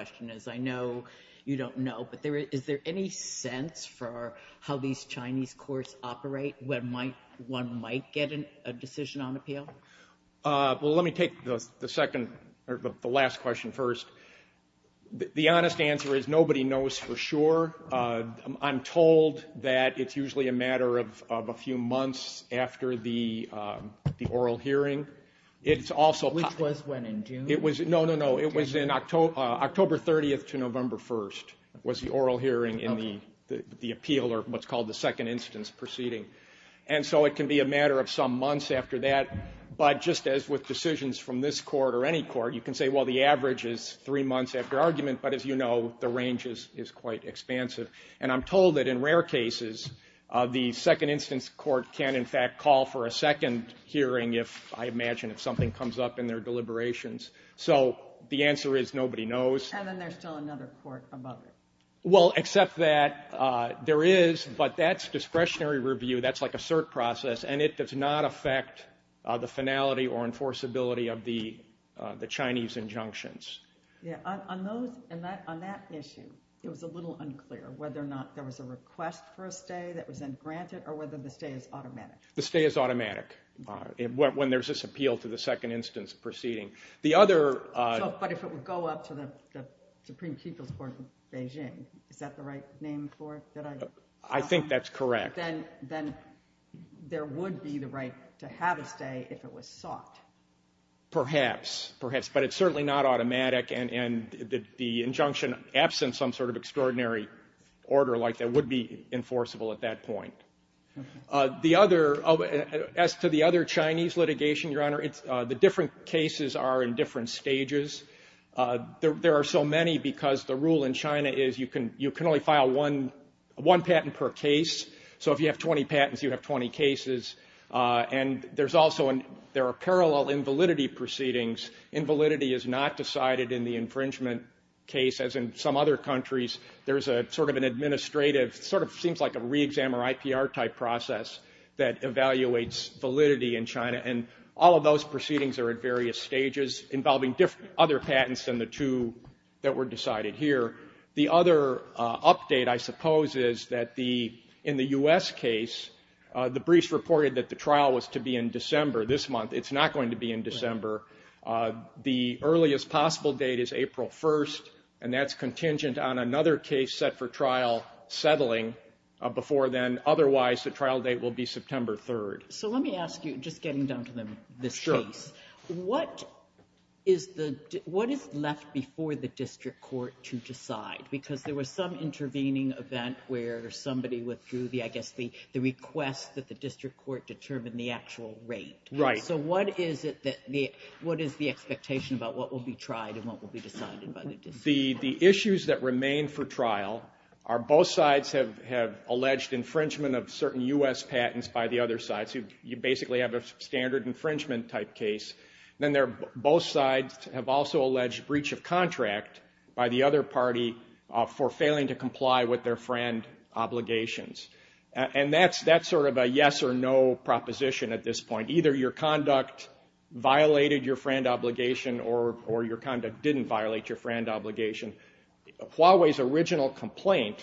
1979 Huawei Technologies v. Samsung 1979, 1967, 1976, 1977, then 1981, 1989, then 1992. don't have a clue at the time of the case. Maybe that mixture is the... maybe you don't know what happened exactly. So if you let me take the second or the last question first. The honest answer is nobody knows for sure. I'm told that it's usually a matter of a few months after the oral hearing. It's also... Which was when? In June? No, no, no. It was in October 30th to November 1st was the oral hearing in the the appeal or what's called the second instance proceeding. And so it can be a matter of some months after that. But just as with decisions from this court or any court, you can say, well, the average is three months after argument. But as you know, the range is quite expansive. And I'm told that in rare cases the second instance court can in fact call for a second hearing if, I imagine, if something comes up in their deliberations. So the answer is nobody knows. And then there's still another court above it. Well, except that there is. But that's discretionary review. That's like a cert process. And it does not affect the finality or enforceability of the Chinese injunctions. Yeah, on that issue it was a little unclear whether or not there was a request for a stay that was then granted or whether the stay is automatic. The stay is automatic when there's this appeal to the second instance proceeding. The other... But if it would go up to the Supreme People's Court in Beijing, is that the right name for it? I think that's correct. Then there would be the right to have a stay if it was sought. Perhaps. Perhaps. But it's certainly not automatic. And the injunction absent some sort of extraordinary order like that would be enforceable at that point. As to the other Chinese litigation, Your Honor, the different cases are in different stages. There are so many because the rule in China is you can only file one patent per case. So if you have 20 patents, you have 20 cases. And there are parallel invalidity proceedings. Invalidity is not decided in the infringement case as in some other countries. There's a sort of an administrative, sort of seems like a re-exam or IPR type process that evaluates validity in China. All of those proceedings are at various stages involving other patents than the two that were decided here. The other update, I suppose, is that in the U.S. case, the briefs reported that the trial was to be in December this month. It's not going to be in December. The earliest possible date is April 1st, and that's contingent on another case set for trial settling before then. Otherwise, the trial date will be September 3rd. So let me ask you, just getting down to this case, what is left before the district court to decide? Because there was some intervening event where somebody withdrew, I guess, the request that the district court determine the actual rate. So what is it that, what is the expectation about what will be tried and what will be decided by the district court? The issues that remain for trial are both sides have alleged infringement of certain U.S. patents by the other side. So you basically have a standard infringement type case. Then both sides have also alleged breach of contract by the other party for failing to comply with their friend obligations. And that's sort of a yes or no proposition at this point. Either your conduct violated your friend obligation or your conduct didn't violate your friend obligation. Huawei's original complaint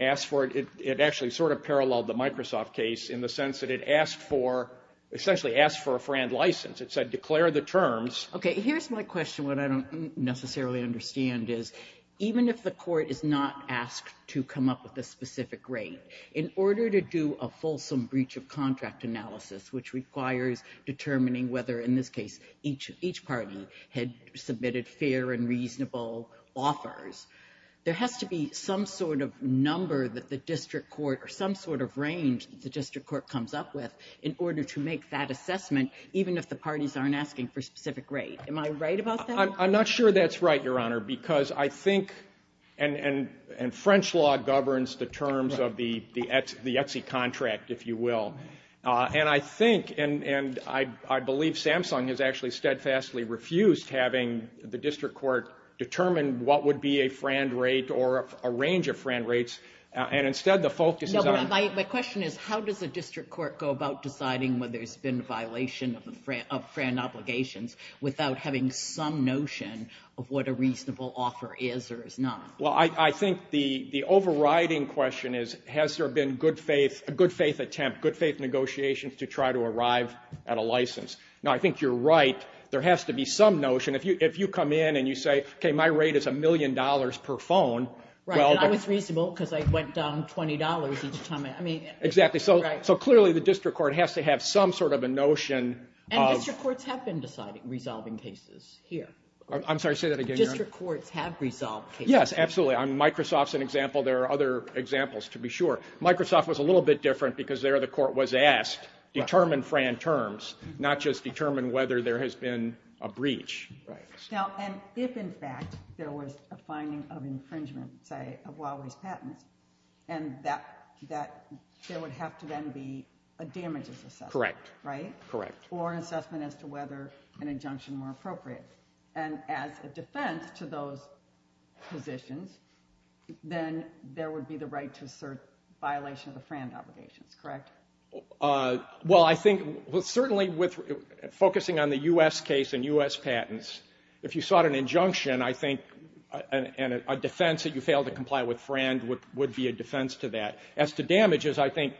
asked for, it actually sort of paralleled the Microsoft case in the sense that it asked for, essentially asked for a friend license. It said declare the terms. Okay, here's my question. What I don't necessarily understand is even if the court is not asked to come up with a specific rate, in order to do a fulsome breach of contract analysis, which requires determining whether, in this case, each party had submitted fair and reasonable offers, there has to be some sort of number that the district court, or some sort of range that the district court comes up with in order to make that assessment, even if the parties aren't asking for a specific rate. Am I right about that? I'm not sure that's right, Your Honor, because I think and French law governs the terms of the Etsy contract, if you will. And I think, and I believe Samsung has actually steadfastly refused having the district court determine what would be a friend rate or a range of friend rates. And instead, the focus is on... No, but my question is, how does the district court go about deciding whether there's been a violation of friend obligations without having some notion of what a reasonable offer is or is not? Well, I think the overriding question is, has there been good faith, a good faith attempt, good faith negotiations to try to arrive at a license? Now, I think you're right. There has to be some notion. If you come in and you say, okay, my rate is a million dollars per phone, and I was reasonable because I went down twenty dollars each time. Exactly, so clearly the district court has to have some sort of a notion. And district courts have been resolving cases here. I'm sorry, say that again, Your Honor. District courts have resolved cases. Yes, absolutely. Microsoft's an example. There are other examples to be sure. Microsoft was a little bit different because there the court was asked determine friend terms, not just determine whether there has been a breach. Now, and if in fact there was a finding of infringement, say, of Huawei's patents, and that there would have to then be a damages assessment, right? Correct. Or an assessment as to whether an injunction were appropriate. And as a defense to those positions, then there would be the right to assert violation of the friend obligations, correct? Well, I think, certainly focusing on the U.S. case and U.S. patents, if you sought an injunction, I think a defense that you fail to comply with friend would be a defense to that. As to damages, I think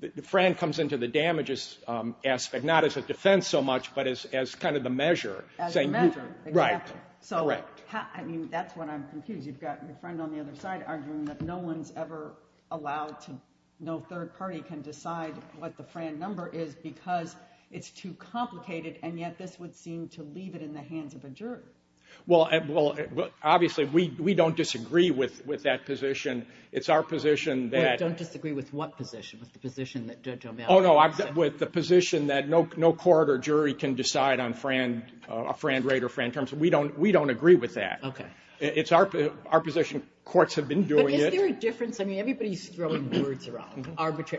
the friend comes into the damages aspect, not as a defense so much, but as kind of the measure. As the measure, exactly. So, I mean, that's what I'm confused. You've got your friend on the other side arguing that no one's ever allowed to, no third party can decide what the friend number is because it's too complicated, and yet this would seem to leave it in the hands of a jury. Well, obviously, we don't disagree with that position. It's our position that... Wait, don't disagree with what position? With the position that Judge O'Malley... Oh, no, with the position that no court or jury can decide on a friend rate or friend terms. We don't agree with that. It's our position. Courts have been doing it. But is there a difference? I mean, everybody's throwing words around.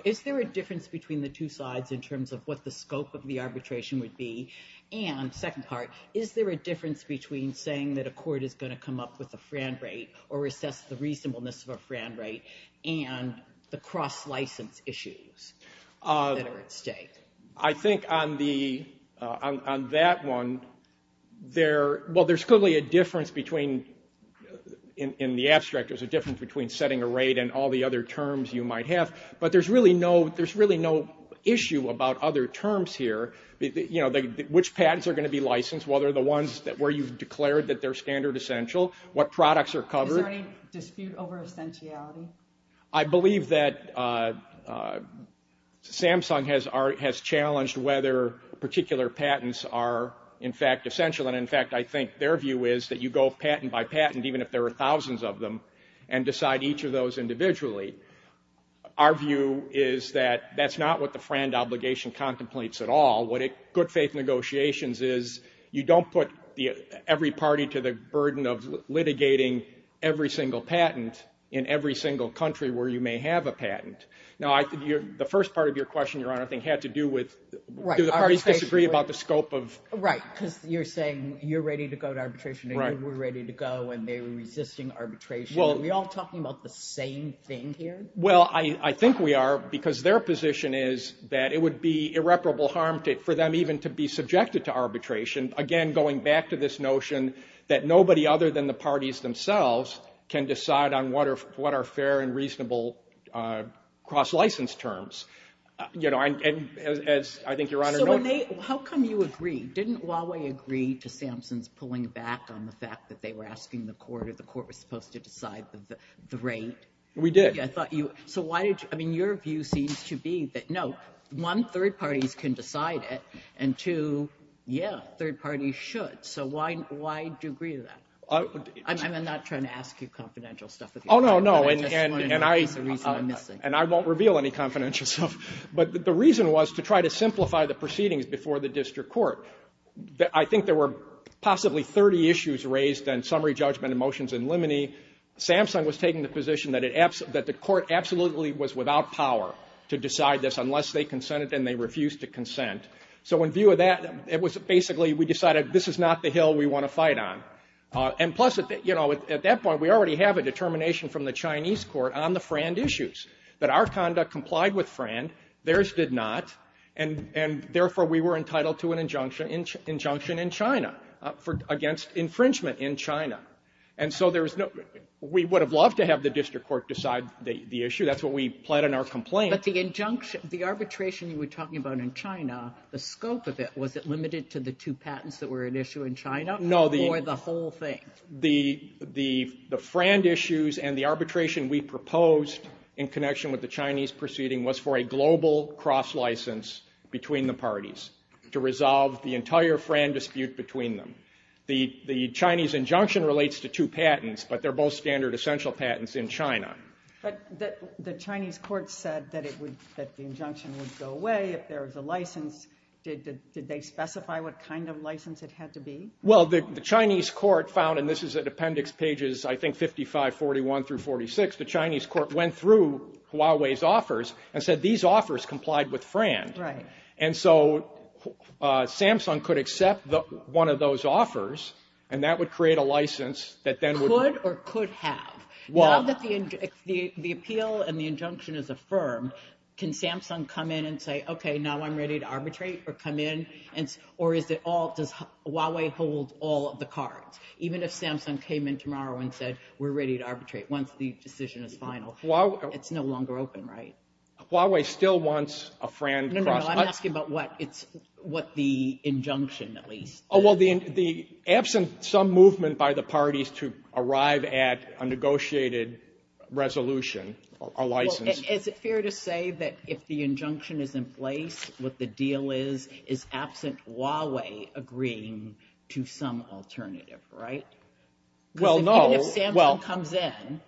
Is there a difference between the two sides in terms of what the scope of the arbitration would be? And, second part, is there a difference between saying that a court is going to come up with a friend rate or assess the reasonableness of a friend rate and the cross-license issues that are at stake? I think on the... on that one, there... well, there's clearly a difference between... in the abstract, there's a difference between setting a rate and all the other terms you might have. But there's really no... there's really no issue about other terms here. You know, which patents are going to be licensed? What are the ones where you've declared that they're standard essential? What products are covered? Is there any dispute over essentiality? I believe that Samsung has challenged whether particular patents are, in fact, essential. And, in fact, I think their view is that you go patent by patent, even if there are thousands of them, and decide each of those individually. Our view is that that's not what the friend obligation contemplates at all. What it... good faith negotiations is you don't put the... every party to the burden of litigating every single patent in every single country where you may have a patent. Now, I... the first part of your question, Your Honor, I think had to do with... do the parties disagree about the scope of... Right, because you're saying you're ready to go to arbitration, and you were ready to go, and they were resisting arbitration. Are we all talking about the same thing here? Well, I think we are, because their position is that it would be irreparable harm for them even to be subjected to arbitration. Again, going back to this notion that nobody other than the parties themselves can decide on what are fair and reasonable cross-license terms. You know, and as I think Your Honor... So, when they... how come you agree? Didn't Huawei agree to the court was supposed to decide the rate? We did. I thought you... So, why did you... I mean, your view seems to be that, no, one, third parties can decide it, and two, yeah, third parties should. So, why do you agree to that? I'm not trying to ask you confidential stuff. Oh, no, no, and I... And I won't reveal any confidential stuff. But the reason was to try to simplify the proceedings before the district court. I think there were possibly thirty issues raised on summary judgment and motions in limine. Samsung was taking the position that the court absolutely was without power to decide this unless they consented and they refused to consent. So, in view of that, it was basically, we decided this is not the hill we want to fight on. And plus, you know, at that point, we already have a determination from the Chinese court on the FRAND issues, that our conduct complied with FRAND, theirs did not, and therefore we were entitled to an injunction in China, against infringement in China. And so there's no... We would have loved to have the district court decide the issue. That's what we pled in our complaint. But the injunction, the arbitration you were talking about in China, the scope of it, was it limited to the two patents that were at issue in China? No, the... Or the whole thing? The FRAND issues and the arbitration we proposed in connection with the Chinese proceeding was for a global cross-license between the parties to resolve the entire FRAND dispute between them. The Chinese injunction relates to two patents, but they're both standard essential patents in China. But the Chinese court said that it would, that the injunction would go away if there was a license. Did they specify what kind of license it had to be? Well, the Chinese court found, and this is at appendix pages, I think, 55, 41, through 46, the Chinese court went through Huawei's offers and said, these offers complied with FRAND. And so Samsung could accept one of those offers and that would create a license that then would... Could or could have? Now that the appeal and the injunction is affirmed, can Samsung come in and say, OK, now I'm ready to arbitrate or come in? Or is it all... Does Huawei hold all of the cards? Even if Samsung came in tomorrow and said, we're ready to arbitrate once the decision is final, it's no longer open, right? Huawei still wants a FRAND... No, no, no, I'm asking about what the injunction, at least. Oh, well, the absence of some movement by the parties to arrive at a negotiated resolution, a license... Is it fair to say that if the injunction is in place, what the deal is, is absent Huawei agreeing to some alternative, right? Well, no... Because even if Samsung comes in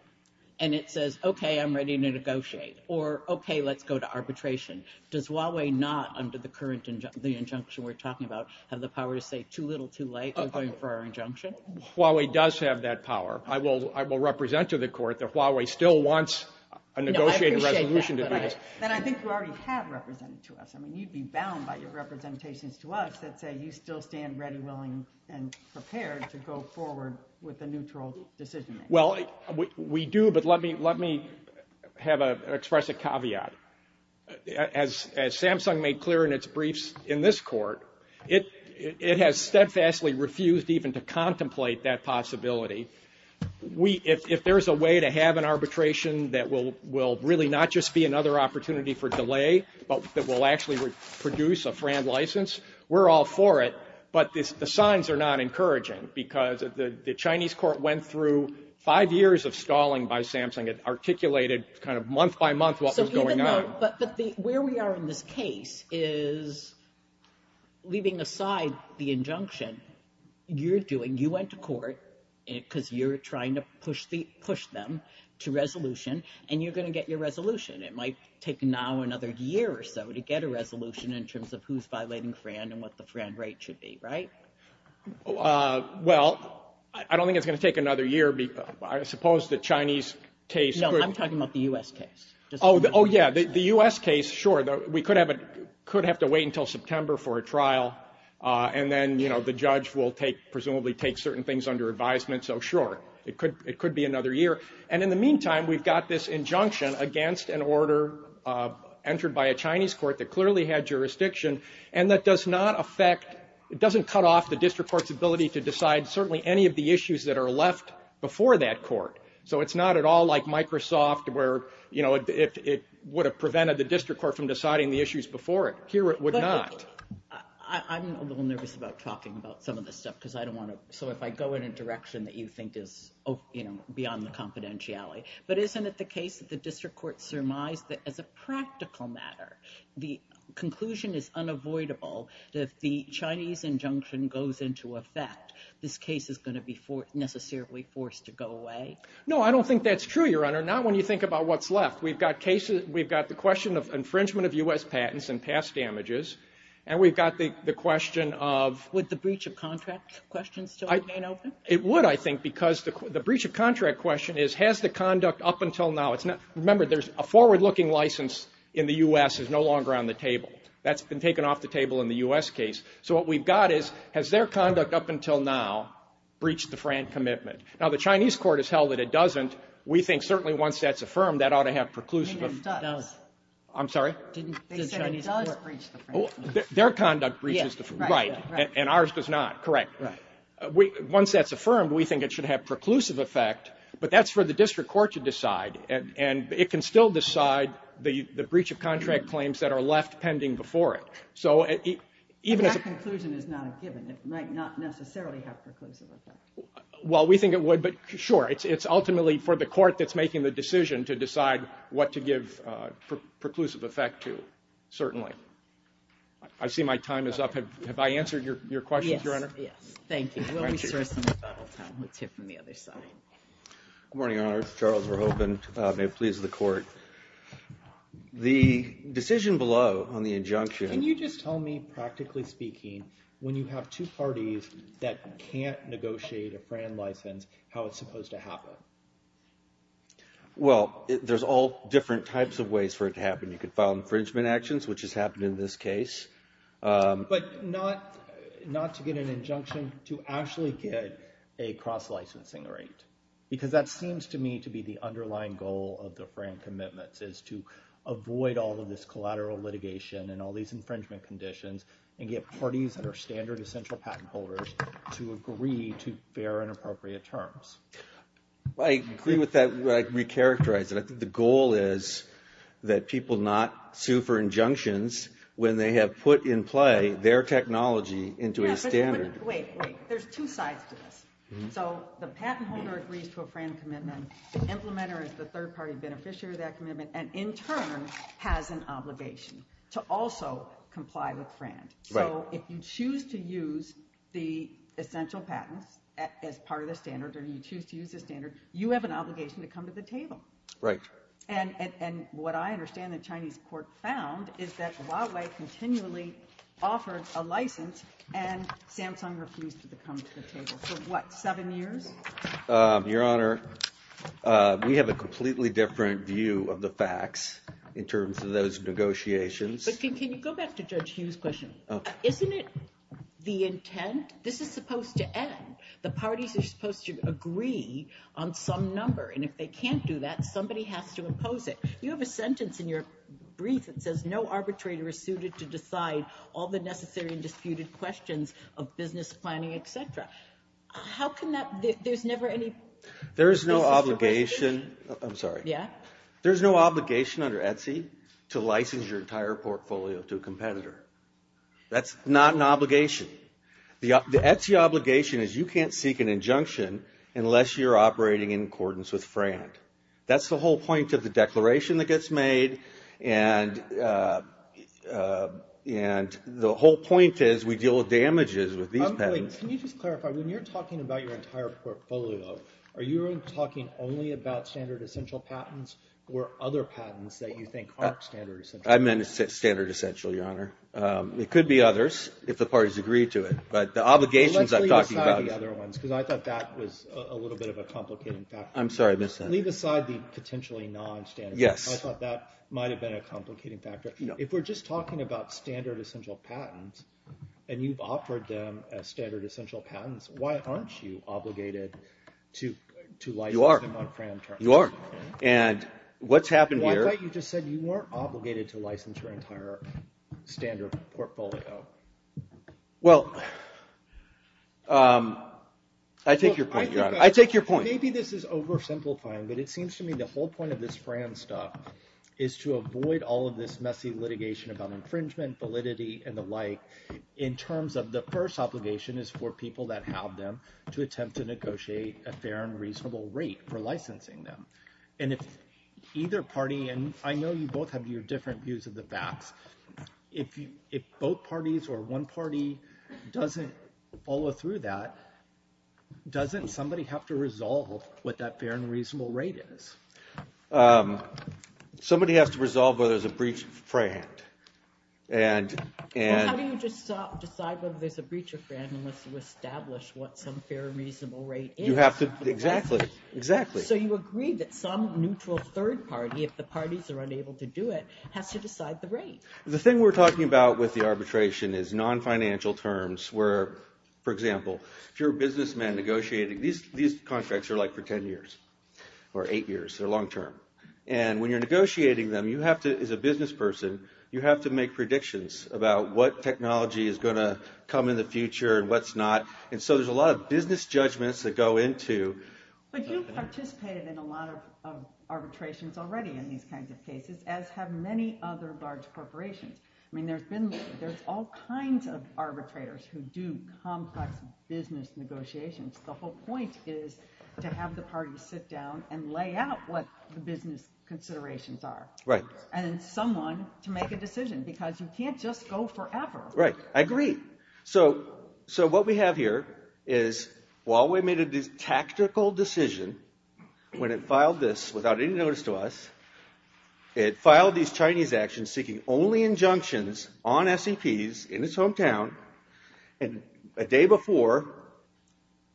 and it says, OK, I'm ready to negotiate or OK, let's go to arbitration, does Huawei not, under the current injunction we're talking about, have the power to say too little, too late, we're going for our injunction? Huawei does have that power. I will represent to the court that Huawei still wants a negotiated resolution to do this. And I think you already have represented to us. I mean, you'd be bound by your representations to us that say you still stand ready, willing and prepared to go forward with a neutral decision-making. Well, we do, but let me express a caveat. As Samsung made clear in its briefs in this court, it has steadfastly refused even to contemplate that possibility. If there is a way to have an arbitration that will really not just be another opportunity for delay, but that will actually produce a FRAND license, we're all for it, but the signs are not encouraging because the Chinese court went through five years of stalling by Samsung. It articulated kind of month by month what was going on. But where we are in this case is, leaving aside the injunction, you went to court because you're trying to push them to resolution and you're going to get your resolution. It might take now another year or so to get a resolution in terms of who's violating FRAND and what the FRAND right should be, right? Well, I don't think it's going to take another year. I suppose the Chinese case... No, I'm talking about the U.S. case. Oh, yeah, the U.S. case, sure. We could have to wait until September for a trial and then, you know, the judge will presumably take certain things under advisement, so sure, it could be another year. And in the meantime, we've got this injunction against an order entered by a Chinese court that clearly had jurisdiction and that does not affect, it doesn't cut off the district court's ability to decide certainly any of the issues that are left before that court. So it's not at all like Microsoft, where it would have prevented the district court from deciding the issues before it. Here, it would not. I'm a little nervous about talking about some of this stuff because I don't want to... So if I go in a direction that you think is beyond the confidentiality, but isn't it the case that the district court surmised that as a practical matter, the conclusion is unavoidable that if the Chinese injunction goes into effect, this case is going to be necessarily forced to go away? No, I don't think that's true, Your Honor. Not when you think about what's left. We've got cases, we've got the question of infringement of U.S. patents and past damages, and we've got the question of... Would the breach of contract question still remain open? It would, I think, because the breach of contract question is, has the conduct up until now, it's not... A working license in the U.S. is no longer on the table. That's been taken off the table in the U.S. case. So what we've got is, has their conduct up until now breached the FRANT commitment? Now, the Chinese court has held that it doesn't. We think certainly once that's affirmed, that ought to have preclusive... It does. I'm sorry? They said it does breach the FRANT commitment. Their conduct breaches the FRANT, right, and ours does not. Correct. Once that's affirmed, we think it should have preclusive effect, but that's for the district court to decide, and it can still decide the breach of contract claims that are left pending before it. So even as a... But that conclusion is not a given. It might not necessarily have preclusive effect. Well, we think it would, but sure, it's ultimately for the court that's making the decision to decide what to give preclusive effect to, certainly. I see my time is up. Have I answered your questions, Your Honor? Yes, yes. Thank you. We'll reassess in the final time. Let's hear from the other side. Good morning, Your Honor. Charles Verhoeven. May it please the court. The decision below on the injunction... Can you just tell me, practically speaking, when you have two parties that can't negotiate a FRANT license, how it's supposed to happen? Well, there's all different types of ways for it to happen. You could file infringement actions, which has happened in this case. But not to get an injunction, to actually get a cross-licensing rate. Because that seems to me to be the underlying goal of the FRANT commitments, is to avoid all of this collateral litigation and all these infringement conditions and get parties that are standard essential patent holders to agree to fair and appropriate terms. I agree with that. I'd re-characterize it. I think the goal is that people not sue for injunctions when they have put in play their technology into a standard. Wait, wait. There's two sides to this. So, the patent holder agrees to a FRANT commitment, the implementer is the third-party beneficiary of that commitment, and in turn has an obligation to also comply with FRANT. So, if you choose to use the essential patents as part of the standard, or you choose to use the standard, you have an obligation to come to the table. Right. And what I understand the Chinese court found is that Huawei continually offered a license and Samsung refused to come to the table for, what, seven years? Your Honor, we have a completely different view of the facts in terms of those negotiations. But can you go back to Judge Hu's question? Isn't it the intent? This is supposed to end. The parties are supposed to agree on some number, and if they can't do that, somebody has to impose it. You have a sentence in your brief that says, no arbitrator is suited to decide all the necessary and disputed questions of business planning, et cetera. How can that, there's never any basis for question? There is no obligation, I'm sorry. Yeah? There's no obligation under ETSI to license your entire portfolio to a competitor. That's not an obligation. The ETSI obligation is you can't seek an injunction unless you're operating in accordance with FRANT. That's the whole point of the declaration that gets made. And the whole point is we deal with damages with these patents. Can you just clarify, when you're talking about your entire portfolio, are you talking only about standard essential patents or other patents that you think aren't standard essential? I meant standard essential, Your Honor. It could be others, if the parties agree to it. But the obligations I'm talking about... Let's leave aside the other ones, because I thought that was a little bit of a complicated factor. I'm sorry, I missed that. Leave aside the potentially non-standard. Yes. I thought that might have been a complicating factor. If we're just talking about standard essential patents, and you've offered them as standard essential patents, why aren't you obligated to license them on FRANT? You are. And what's happened here... I thought you just said you weren't obligated to license your entire standard portfolio. Well, I take your point, Your Honor. I take your point. Maybe this is oversimplifying, but it seems to me the whole point of this FRANT stuff is to avoid all of this messy litigation about infringement, validity, and the like, in terms of the first obligation is for people that have them to attempt to negotiate a fair and reasonable rate for licensing them. And if either party... And I know you both have your different views of the facts. If both parties or one party doesn't follow through that, doesn't somebody have to resolve what that fair and reasonable rate is? Somebody has to resolve whether there's a breach of FRANT. And... How do you decide whether there's a breach of FRANT unless you establish what some fair and reasonable rate is? You have to... Exactly. Exactly. So you agree that some neutral third party, if the parties are unable to do it, has to decide the rate. The thing we're talking about with the arbitration is non-financial terms, where, for example, if you're a businessman negotiating... These contracts are like for 10 years or 8 years. They're long term. And when you're negotiating them, you have to... As a business person, you have to make predictions about what technology is going to come in the future and what's not. And so there's a lot of business judgments that go into... But you've participated in a lot of arbitrations already in these kinds of cases, as have many other large corporations. I mean, there's all kinds of arbitrators who do complex business negotiations. The whole point is to have the parties sit down and lay out what the business considerations are. Right. And then someone to make a decision because you can't just go forever. Right. I agree. So what we have here is, while we made a tactical decision, when it filed this without any notice to us, it filed these Chinese actions seeking only injunctions on SEPs in its hometown. And a day before,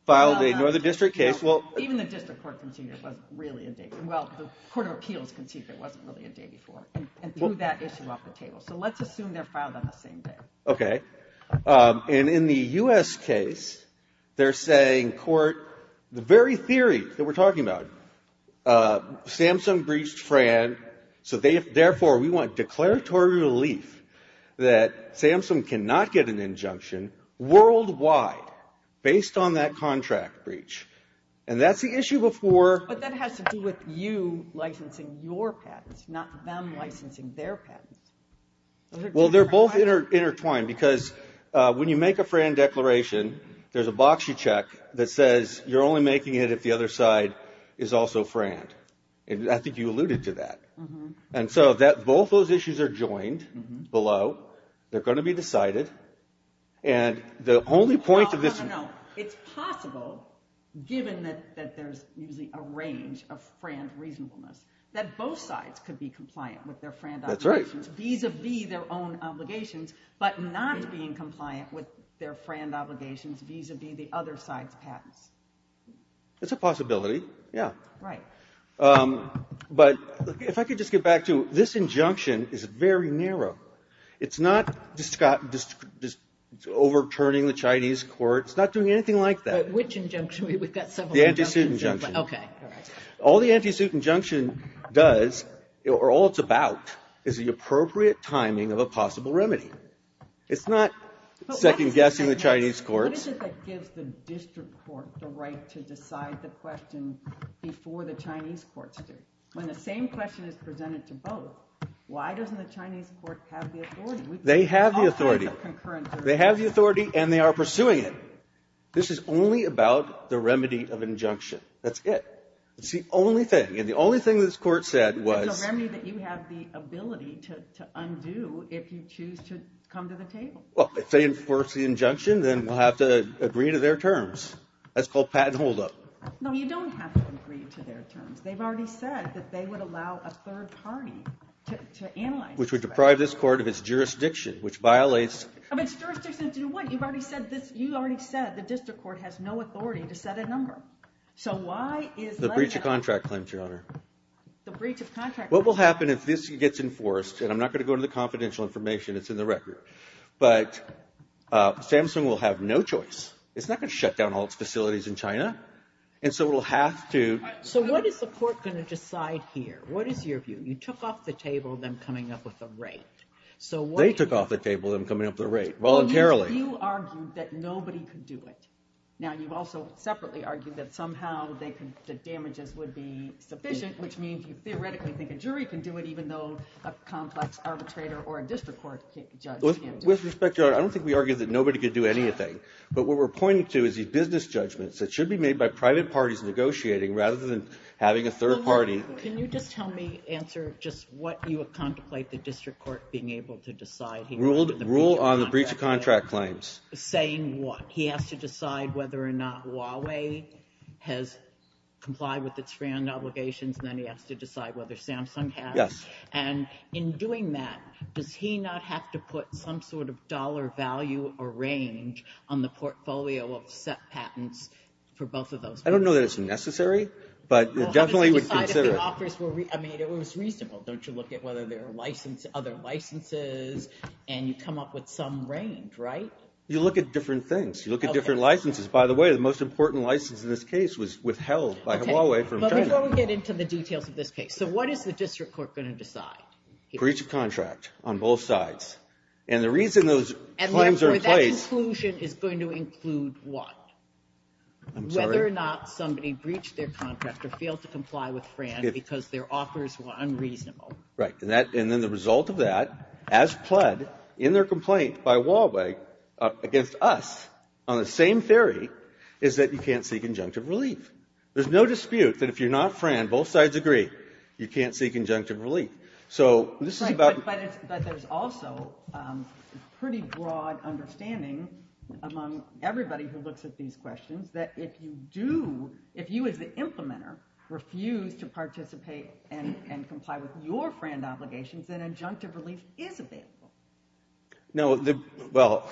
filed a Northern District case. Well, even the District Court conceded it wasn't really a day before. Well, the Court of Appeals conceded it wasn't really a day before, and threw that issue off the table. So let's assume they're filed on the same day. Okay. And in the U.S. case, they're saying, court, the very theory that we're talking about, Samsung breached FRAN, so therefore we want declaratory relief that Samsung cannot get an injunction worldwide based on that contract breach. And that's the issue before. But that has to do with you licensing your patents, not them licensing their patents. Well, they're both intertwined because when you make a FRAN declaration, there's a box you check that says, you're only making it if the other side is also FRAN. And I think you alluded to that. And so both those issues are joined, below, they're going to be decided. And the only point of this- No, no, no. It's possible, given that there's usually a range of FRAN reasonableness, that both sides could be compliant with their FRAN obligations. That's right. Vis-a-vis their own obligations, but not being compliant with their FRAN obligations vis-a-vis the other side's patents. It's a possibility. Yeah. Right. But if I could just get back to, this injunction is very narrow. It's not overturning the Chinese court. It's not doing anything like that. Which injunction? We've got several injunctions. The anti-suit injunction. Okay. All right. All the anti-suit injunction does, or all it's about, is the appropriate timing of a possible remedy. It's not second-guessing the Chinese courts. What is it that gives the district court the right to decide the question before the Chinese courts do? When the same question is presented to both, why doesn't the Chinese court have the authority? They have the authority. They have the authority, and they are pursuing it. This is only about the remedy of injunction. That's it. It's the only thing. And the only thing this court said was... It's a remedy that you have the ability to undo if you choose to come to the table. Well, if they enforce the injunction, then we'll have to agree to their terms. That's called patent holdup. No, you don't have to agree to their terms. They've already said that they would allow a third party to analyze this. Which would deprive this court of its jurisdiction, which violates... Of its jurisdiction to do what? You've already said this. You already said the district court has no authority to set a number. So why is letting... The breach of contract claims, Your Honor. The breach of contract claims. What will happen if this gets enforced, and I'm not going to go into the confidential information. It's in the record. But Samsung will have no choice. It's not going to shut down all its facilities in China. And so it'll have to... So what is the court going to decide here? What is your view? You took off the table them coming up with a rate. They took off the table them coming up with a rate. Voluntarily. You argued that nobody could do it. Now, you've also separately argued that somehow the damages would be sufficient, which means you theoretically think a jury can do it, even though a complex arbitrator or a district court judge can't do it. With respect, Your Honor, I don't think we argued that nobody could do anything. But what we're pointing to is these business judgments that should be made by private parties negotiating, rather than having a third party... Can you just tell me, answer just what you contemplate the district court being able to decide? Rule on the breach of contract claims. Saying what? He has to decide whether or not Huawei has complied with its brand obligations, and then he has to decide whether Samsung has. Yes. And in doing that, does he not have to put some sort of dollar value or range on the portfolio of set patents for both of those? I don't know that it's necessary, but you definitely would consider... Well, how does he decide if the offers were... I mean, it was reasonable. Don't you look at whether there are other licenses, and you come up with some range, right? You look at different things. You look at different licenses. By the way, the most important license in this case was withheld by Huawei from China. Okay, but before we get into the details of this case, so what is the district court going to decide? Breach of contract on both sides. And the reason those claims are in place... And therefore, that conclusion is going to include what? I'm sorry? Whether or not somebody breached their contract or failed to comply with FRAN because their offers were unreasonable. Right, and then the result of that, as pled in their complaint by Huawei against us, on the same theory, is that you can't seek injunctive relief. There's no dispute that if you're not FRAN, both sides agree, you can't seek injunctive relief. So this is about... Right, but there's also a pretty broad understanding among everybody who looks at these questions that if you do... If you, as the implementer, refuse to participate and comply with your FRAN obligations, then injunctive relief is available. No, well,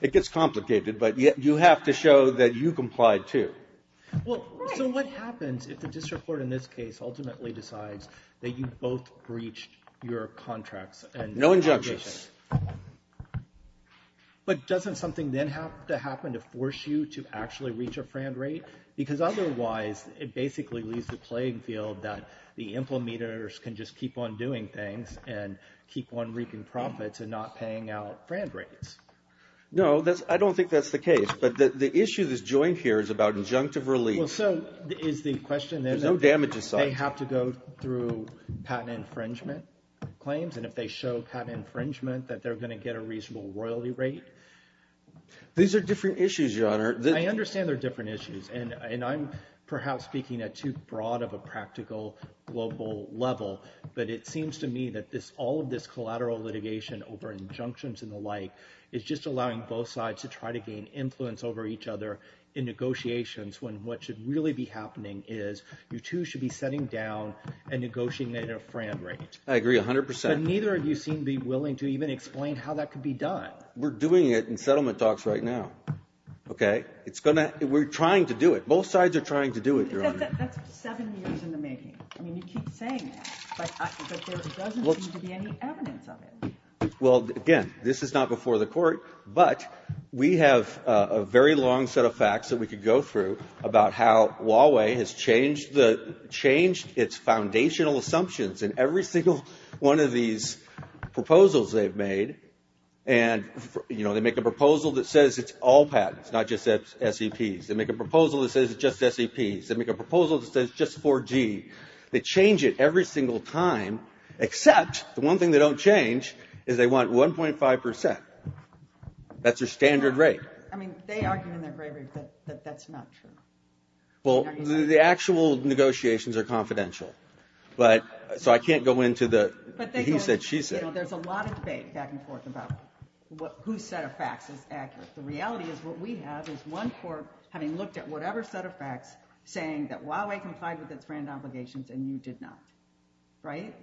it gets complicated, but you have to show that you complied, too. Well, so what happens if the district court, in this case, ultimately decides that you both breached your contracts and... No injunctions. Right. But doesn't something then have to happen to force you to actually reach a FRAN rate? Because otherwise, it basically leaves the playing field that the implementers can just keep on doing things and keep on reaping profits and not paying out FRAN rates. No, I don't think that's the case, but the issue that's joined here is about injunctive relief. Well, so is the question... There's no damage assigned. They have to go through patent infringement claims, and if they show patent infringement, that they're going to get a reasonable royalty rate? These are different issues, Your Honor. I understand they're different issues, and I'm perhaps speaking at too broad of a practical global level, but it seems to me that all of this collateral litigation over injunctions and the like is just allowing both sides to try to gain influence over each other in negotiations when what should really be happening is you two should be setting down a negotiating FRAN rate. I agree 100 percent. Neither of you seem to be willing to even explain how that could be done. We're doing it in settlement talks right now, okay? It's going to... We're trying to do it. Both sides are trying to do it, Your Honor. That's seven years in the making. I mean, you keep saying that, but there doesn't seem to be any evidence of it. Well, again, this is not before the court, but we have a very long set of facts that we could go through about how Huawei has changed its foundational assumptions in every single one of these proposals they've made, and they make a proposal that says it's all patents, not just SEPs. They make a proposal that says it's just SEPs. They make a proposal that says it's just 4G. They change it every single time, except the one thing they don't change is they want 1.5 percent. That's their standard rate. I mean, they argue in their bravery that that's not true. Well, the actual negotiations are confidential, but so I can't go into the he said, she said. There's a lot of debate back and forth about whose set of facts is accurate. The reality is what we have is one court having looked at whatever set of facts saying that Huawei complied with its brand obligations and you did not, right?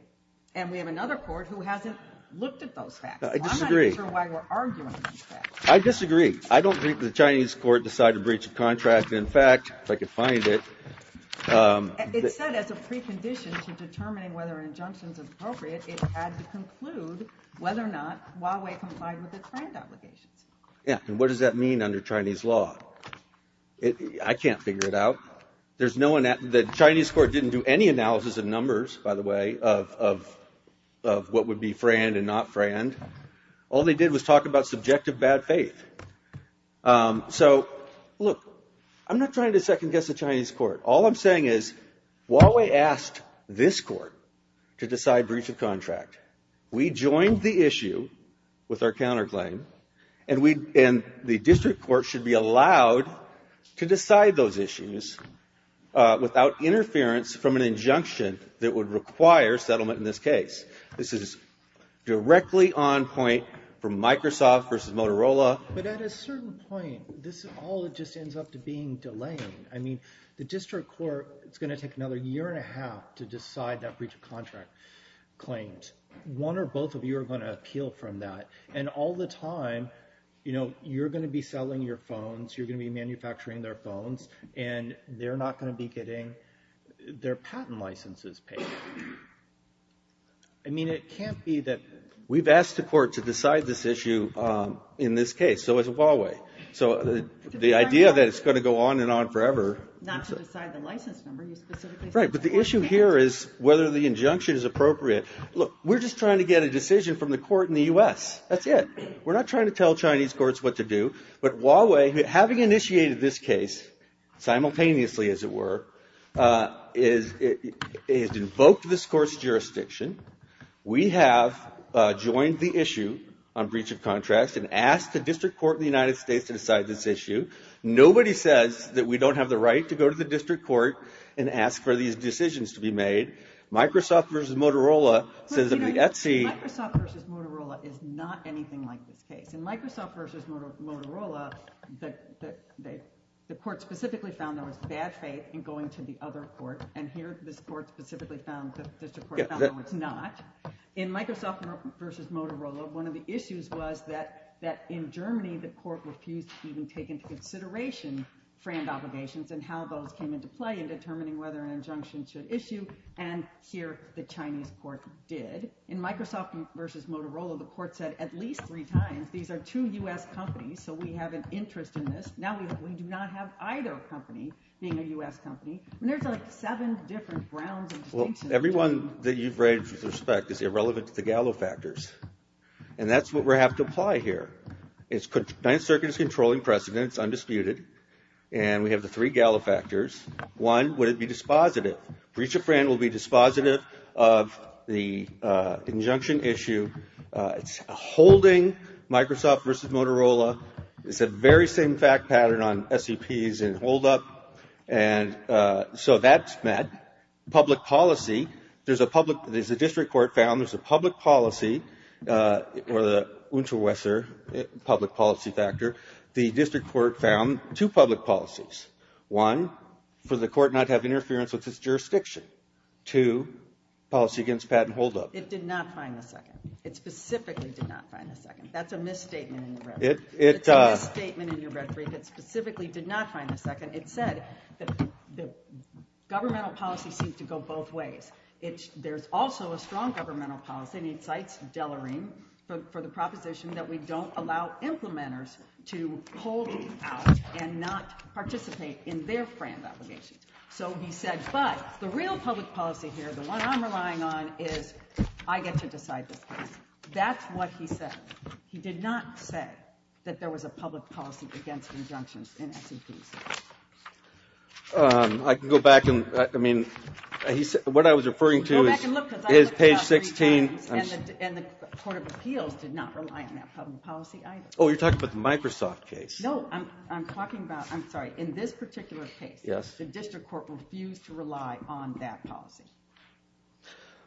And we have another court who hasn't looked at those facts. I disagree. I disagree. I don't think the Chinese court decided to breach a contract. In fact, if I could find it... It said as a precondition to determining whether an injunction is appropriate, it had to conclude whether or not Huawei complied with its brand obligations. Yeah, and what does that mean under Chinese law? I can't figure it out. There's no one that the Chinese court didn't do any analysis of numbers, by the way, of what would be brand and not brand. All they did was talk about subjective bad faith. So, look, I'm not trying to second guess the Chinese court. All I'm saying is Huawei asked this court to decide breach of contract. We joined the issue with our counterclaim and the district court should be allowed to decide those issues without interference from an injunction that would require settlement in this case. This is directly on point from Microsoft versus Motorola. But at a certain point, this all just ends up to being delaying. I mean, the district court is going to take another year and a half to decide that breach of contract claims. One or both of you are going to appeal from that. And all the time, you're going to be selling your phones, you're going to be manufacturing their phones, and they're not going to be getting their patent licenses paid. I mean, it can't be that... We've asked the court to decide this issue in this case. So has Huawei. So the idea that it's going to go on and on forever... Not to decide the license number, you specifically said... Right, but the issue here is whether the injunction is appropriate. Look, we're just trying to get a decision from the court in the US. That's it. We're not trying to tell Chinese courts what to do. But Huawei, having initiated this case simultaneously, as it were, has invoked this court's jurisdiction. We have joined the issue on breach of contract and asked the district court in the United States to decide this issue. Nobody says that we don't have the right to go to the district court and ask for these decisions to be made. Microsoft versus Motorola says that the Etsy... Microsoft versus Motorola is not anything like this case. In Microsoft versus Motorola, the court specifically found there was bad faith in going to the other court. And here, this court specifically found that the district court found it's not. In Microsoft versus Motorola, one of the issues was that in Germany, the court refused to even take into consideration friend obligations and how those came into play in determining whether an injunction should issue. And here, the Chinese court did. In Microsoft versus Motorola, the court said at least three times, these are two US companies, so we have an interest in this. Now, we do not have either company being a US company. And there's like seven different grounds and distinctions. Well, everyone that you've raised with respect is irrelevant to the Gallo factors. And that's what we have to apply here. It's Ninth Circuit is controlling precedent, it's undisputed. And we have the three Gallo factors. One, would it be dispositive? Breach of friend will be dispositive of the injunction issue. It's holding Microsoft versus Motorola. It's the very same fact pattern on SEPs and hold up. And so that's met. Public policy, there's a public, there's a district court found, there's a public policy or the public policy factor. The district court found two public policies. One, for the court not to have interference with its jurisdiction. Two, policy against patent hold up. It did not find the second. It specifically did not find the second. That's a misstatement in your reference. It's a misstatement in your reference. It specifically did not find the second. And it said that the governmental policy seems to go both ways. There's also a strong governmental policy, and he cites Dellerine for the proposition that we don't allow implementers to hold out and not participate in their friend obligations. So he said, but the real public policy here, the one I'm relying on, is I get to decide this case. That's what he said. He did not say that there was a public policy against injunctions and S&Ps. I can go back and, I mean, what I was referring to is page 16. And the Court of Appeals did not rely on that public policy either. Oh, you're talking about the Microsoft case. No, I'm talking about, I'm sorry, in this particular case, the district court refused to rely on that policy.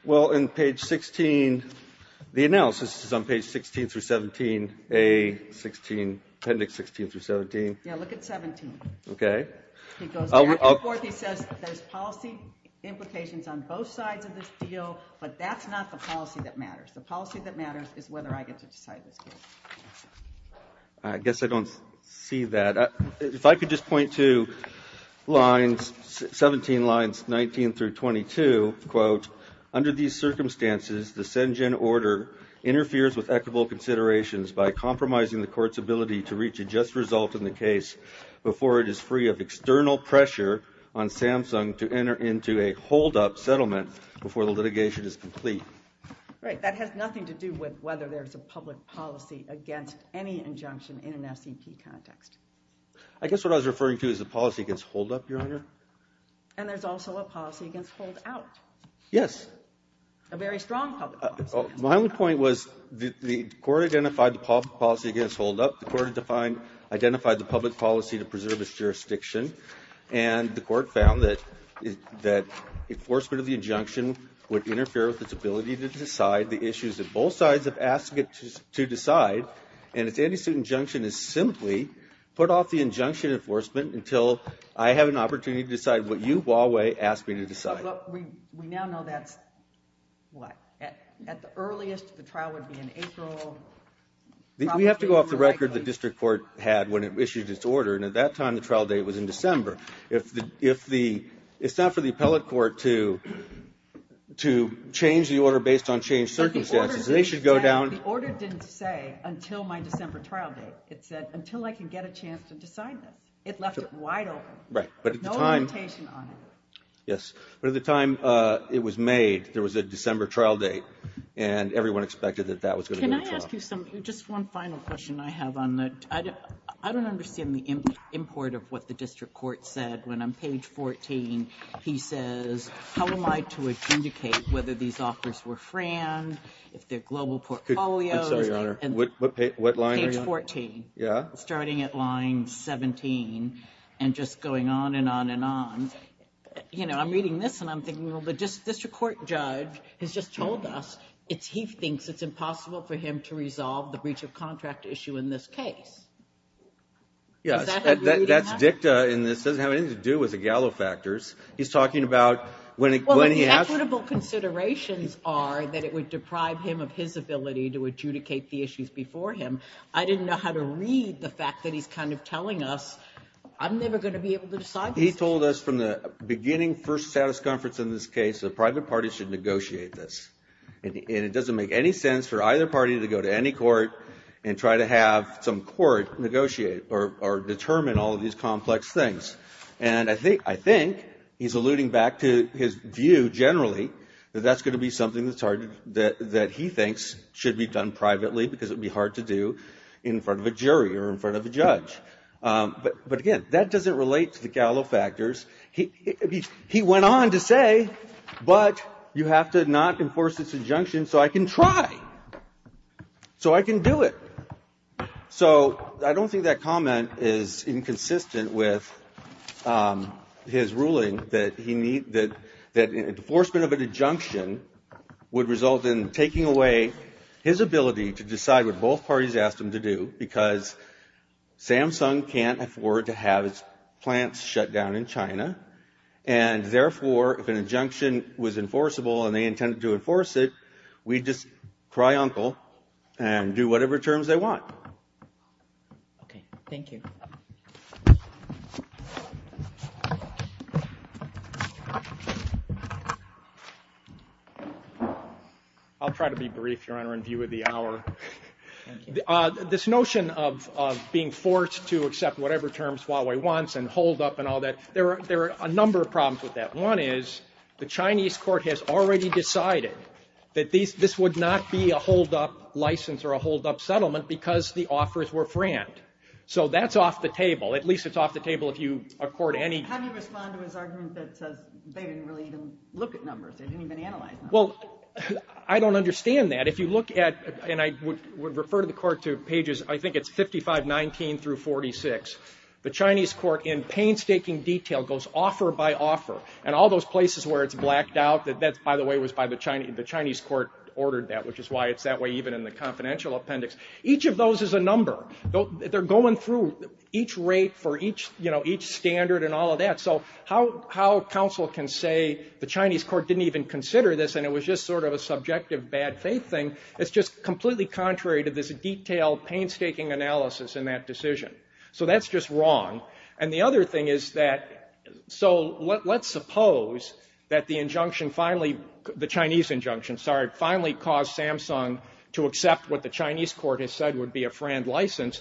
Well, in page 16, the analysis is on page 16 through 17, A, 16, appendix 16 through 17. Yeah, look at 17. OK. He goes back and forth. He says there's policy implications on both sides of this deal, but that's not the policy that matters. The policy that matters is whether I get to decide this case. I guess I don't see that. If I could just point to lines, 17 lines 19 through 22, quote, under these circumstances, the Sengen order interferes with equitable considerations by compromising the court's ability to reach a just result in the case before it is free of external pressure on Samsung to enter into a holdup settlement before the litigation is complete. Right, that has nothing to do with whether there's a public policy against any injunction in an SCP context. I guess what I was referring to is the policy against holdup, Your Honor. And there's also a policy against holdout. Yes. A very strong public policy. My only point was the court identified the policy against holdup. The court identified the public policy to preserve its jurisdiction. And the court found that enforcement of the injunction would interfere with its ability to decide the issues that both sides have asked it to decide. And its anti-suit injunction is simply put off the injunction enforcement until I have an opportunity to decide what you, Huawei, asked me to decide. We now know that's what? At the earliest, the trial would be in April. We have to go off the record the district court had when it issued its order. And at that time, the trial date was in December. If the, it's not for the appellate court to change the order based on changed circumstances. They should go down. The order didn't say until my December trial date. It said until I can get a chance to decide that. It left it wide open. Right, but at the time. No limitation on it. Yes, but at the time it was made, there was a December trial date. And everyone expected that that was going to go to trial. Can I ask you just one final question I have on that? I don't understand the import of what the district court said. When I'm page 14, he says, how am I to indicate whether these offers were fran, if they're global portfolios, page 14. Starting at line 17 and just going on and on and on. I'm reading this and I'm thinking, well, the district court judge has just told us it's, he thinks it's impossible for him to resolve the breach of contract issue in this case. Yeah, that's dicta and this doesn't have anything to do with the Gallo factors. He's talking about when he, when he asked, equitable considerations are that it would deprive him of his ability to adjudicate the issues before him. I didn't know how to read the fact that he's kind of telling us. I'm never going to be able to decide. He told us from the beginning, first status conference in this case, the private party should negotiate this. And it doesn't make any sense for either party to go to any court and try to have some court negotiate or, or determine all of these complex things. And I think, I think he's alluding back to his view generally, that that's going to be something that's hard, that, that he thinks should be done privately because it would be hard to do in front of a jury or in front of a judge. But, but again, that doesn't relate to the Gallo factors. He, he, he went on to say, but you have to not enforce this injunction so I can try. So I can do it. So, I don't think that comment is inconsistent with his ruling that he need, that, that enforcement of an injunction would result in taking away his ability to decide what both parties asked him to do because Samsung can't afford to have plants shut down in China, and therefore, if an injunction was enforceable and they intended to enforce it, we'd just cry uncle and do whatever terms they want. Okay, thank you. I'll try to be brief, Your Honor, in view of the hour. Thank you. This notion of, of being forced to accept whatever terms Huawei wants and hold up and all that, there are, there are a number of problems with that. One is, the Chinese court has already decided that these, this would not be a hold up license or a hold up settlement because the offers were frammed. So that's off the table. At least it's off the table if you accord any- How do you respond to his argument that says they didn't really even look at numbers. They didn't even analyze numbers. Well, I don't understand that. If you look at, and I would, would refer to the court to pages, I think it's 5519 through 46, the Chinese court in painstaking detail goes offer by offer. And all those places where it's blacked out, that that's, by the way, was by the Chinese, the Chinese court ordered that, which is why it's that way even in the confidential appendix. Each of those is a number. They're going through each rate for each, you know, each standard and all of that. So how, how counsel can say the Chinese court didn't even consider this and it was just sort of a subjective bad faith thing. It's just completely contrary to this detailed painstaking analysis in that decision. So that's just wrong. And the other thing is that, so let, let's suppose that the injunction finally, the Chinese injunction, sorry, finally caused Samsung to accept what the Chinese court has said would be a frammed license.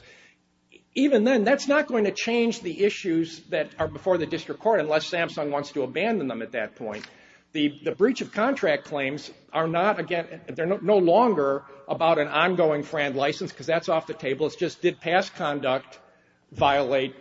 Even then, that's not going to change the issues that are before the district court unless Samsung wants to abandon them at that point. The, the breach of contract claims are not, again, they're no longer about an ongoing frammed license because that's off the table. It's just did past conduct violate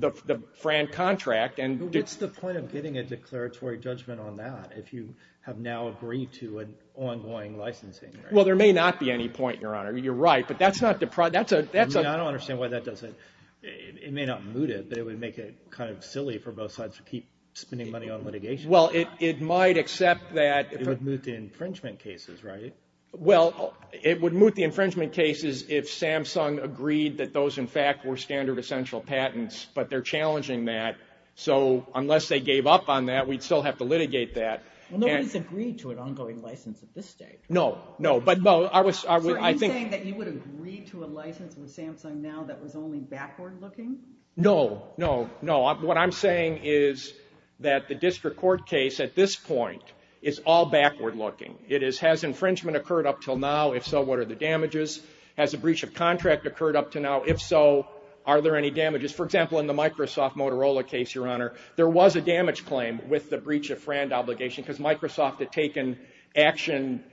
the, the frammed contract and. What's the point of getting a declaratory judgment on that if you have now agreed to an ongoing licensing? Well, there may not be any point, Your Honor. You're right, but that's not the pro, that's a, that's a. I mean, I don't understand why that doesn't, it may not moot it, but it would make it kind of silly for both sides to keep spending money on litigation. Well, it, it might accept that. It would moot the infringement cases, right? Well, it would moot the infringement cases if Samsung agreed that those, in fact, were standard essential patents, but they're challenging that. So, unless they gave up on that, we'd still have to litigate that. Well, nobody's agreed to an ongoing license at this stage. No, no, but no, I was, I was, I think. So, are you saying that you would agree to a license with Samsung now that was only backward looking? No, no, no. What I'm saying is that the district court case at this point is all backward looking. It is, has infringement occurred up till now? If so, what are the damages? Has a breach of contract occurred up to now? If so, are there any damages? For example, in the Microsoft Motorola case, Your Honor, there was a damage claim with the breach of friend obligation, because Microsoft had taken action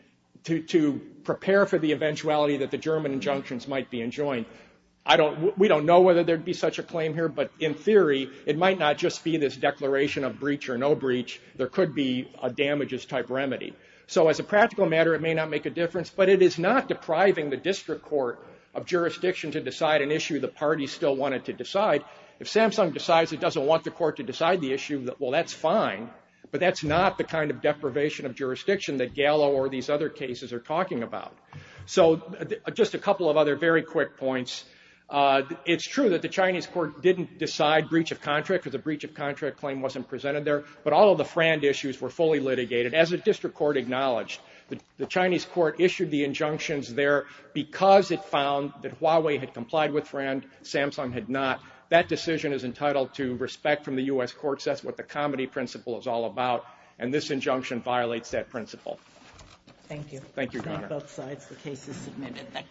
to, to prepare for the eventuality that the German injunctions might be enjoined. I don't, we don't know whether there'd be such a claim here, but in theory, it might not just be this declaration of breach or no breach. There could be a damages type remedy. So as a practical matter, it may not make a difference, but it is not depriving the district court of jurisdiction to decide an issue the party still wanted to decide. If Samsung decides it doesn't want the court to decide the issue, well, that's fine, but that's not the kind of deprivation of jurisdiction that Gallo or these other cases are talking about. So, just a couple of other very quick points. It's true that the Chinese court didn't decide breach of contract, because the breach of contract claim wasn't presented there. But all of the friend issues were fully litigated, as the district court acknowledged. The Chinese court issued the injunctions there, because it found that Huawei had complied with friend, Samsung had not. That decision is entitled to respect from the U.S. courts. That's what the comedy principle is all about. And this injunction violates that principle. Thank you. Thank you, Your Honor. It's not both sides, the case is submitted.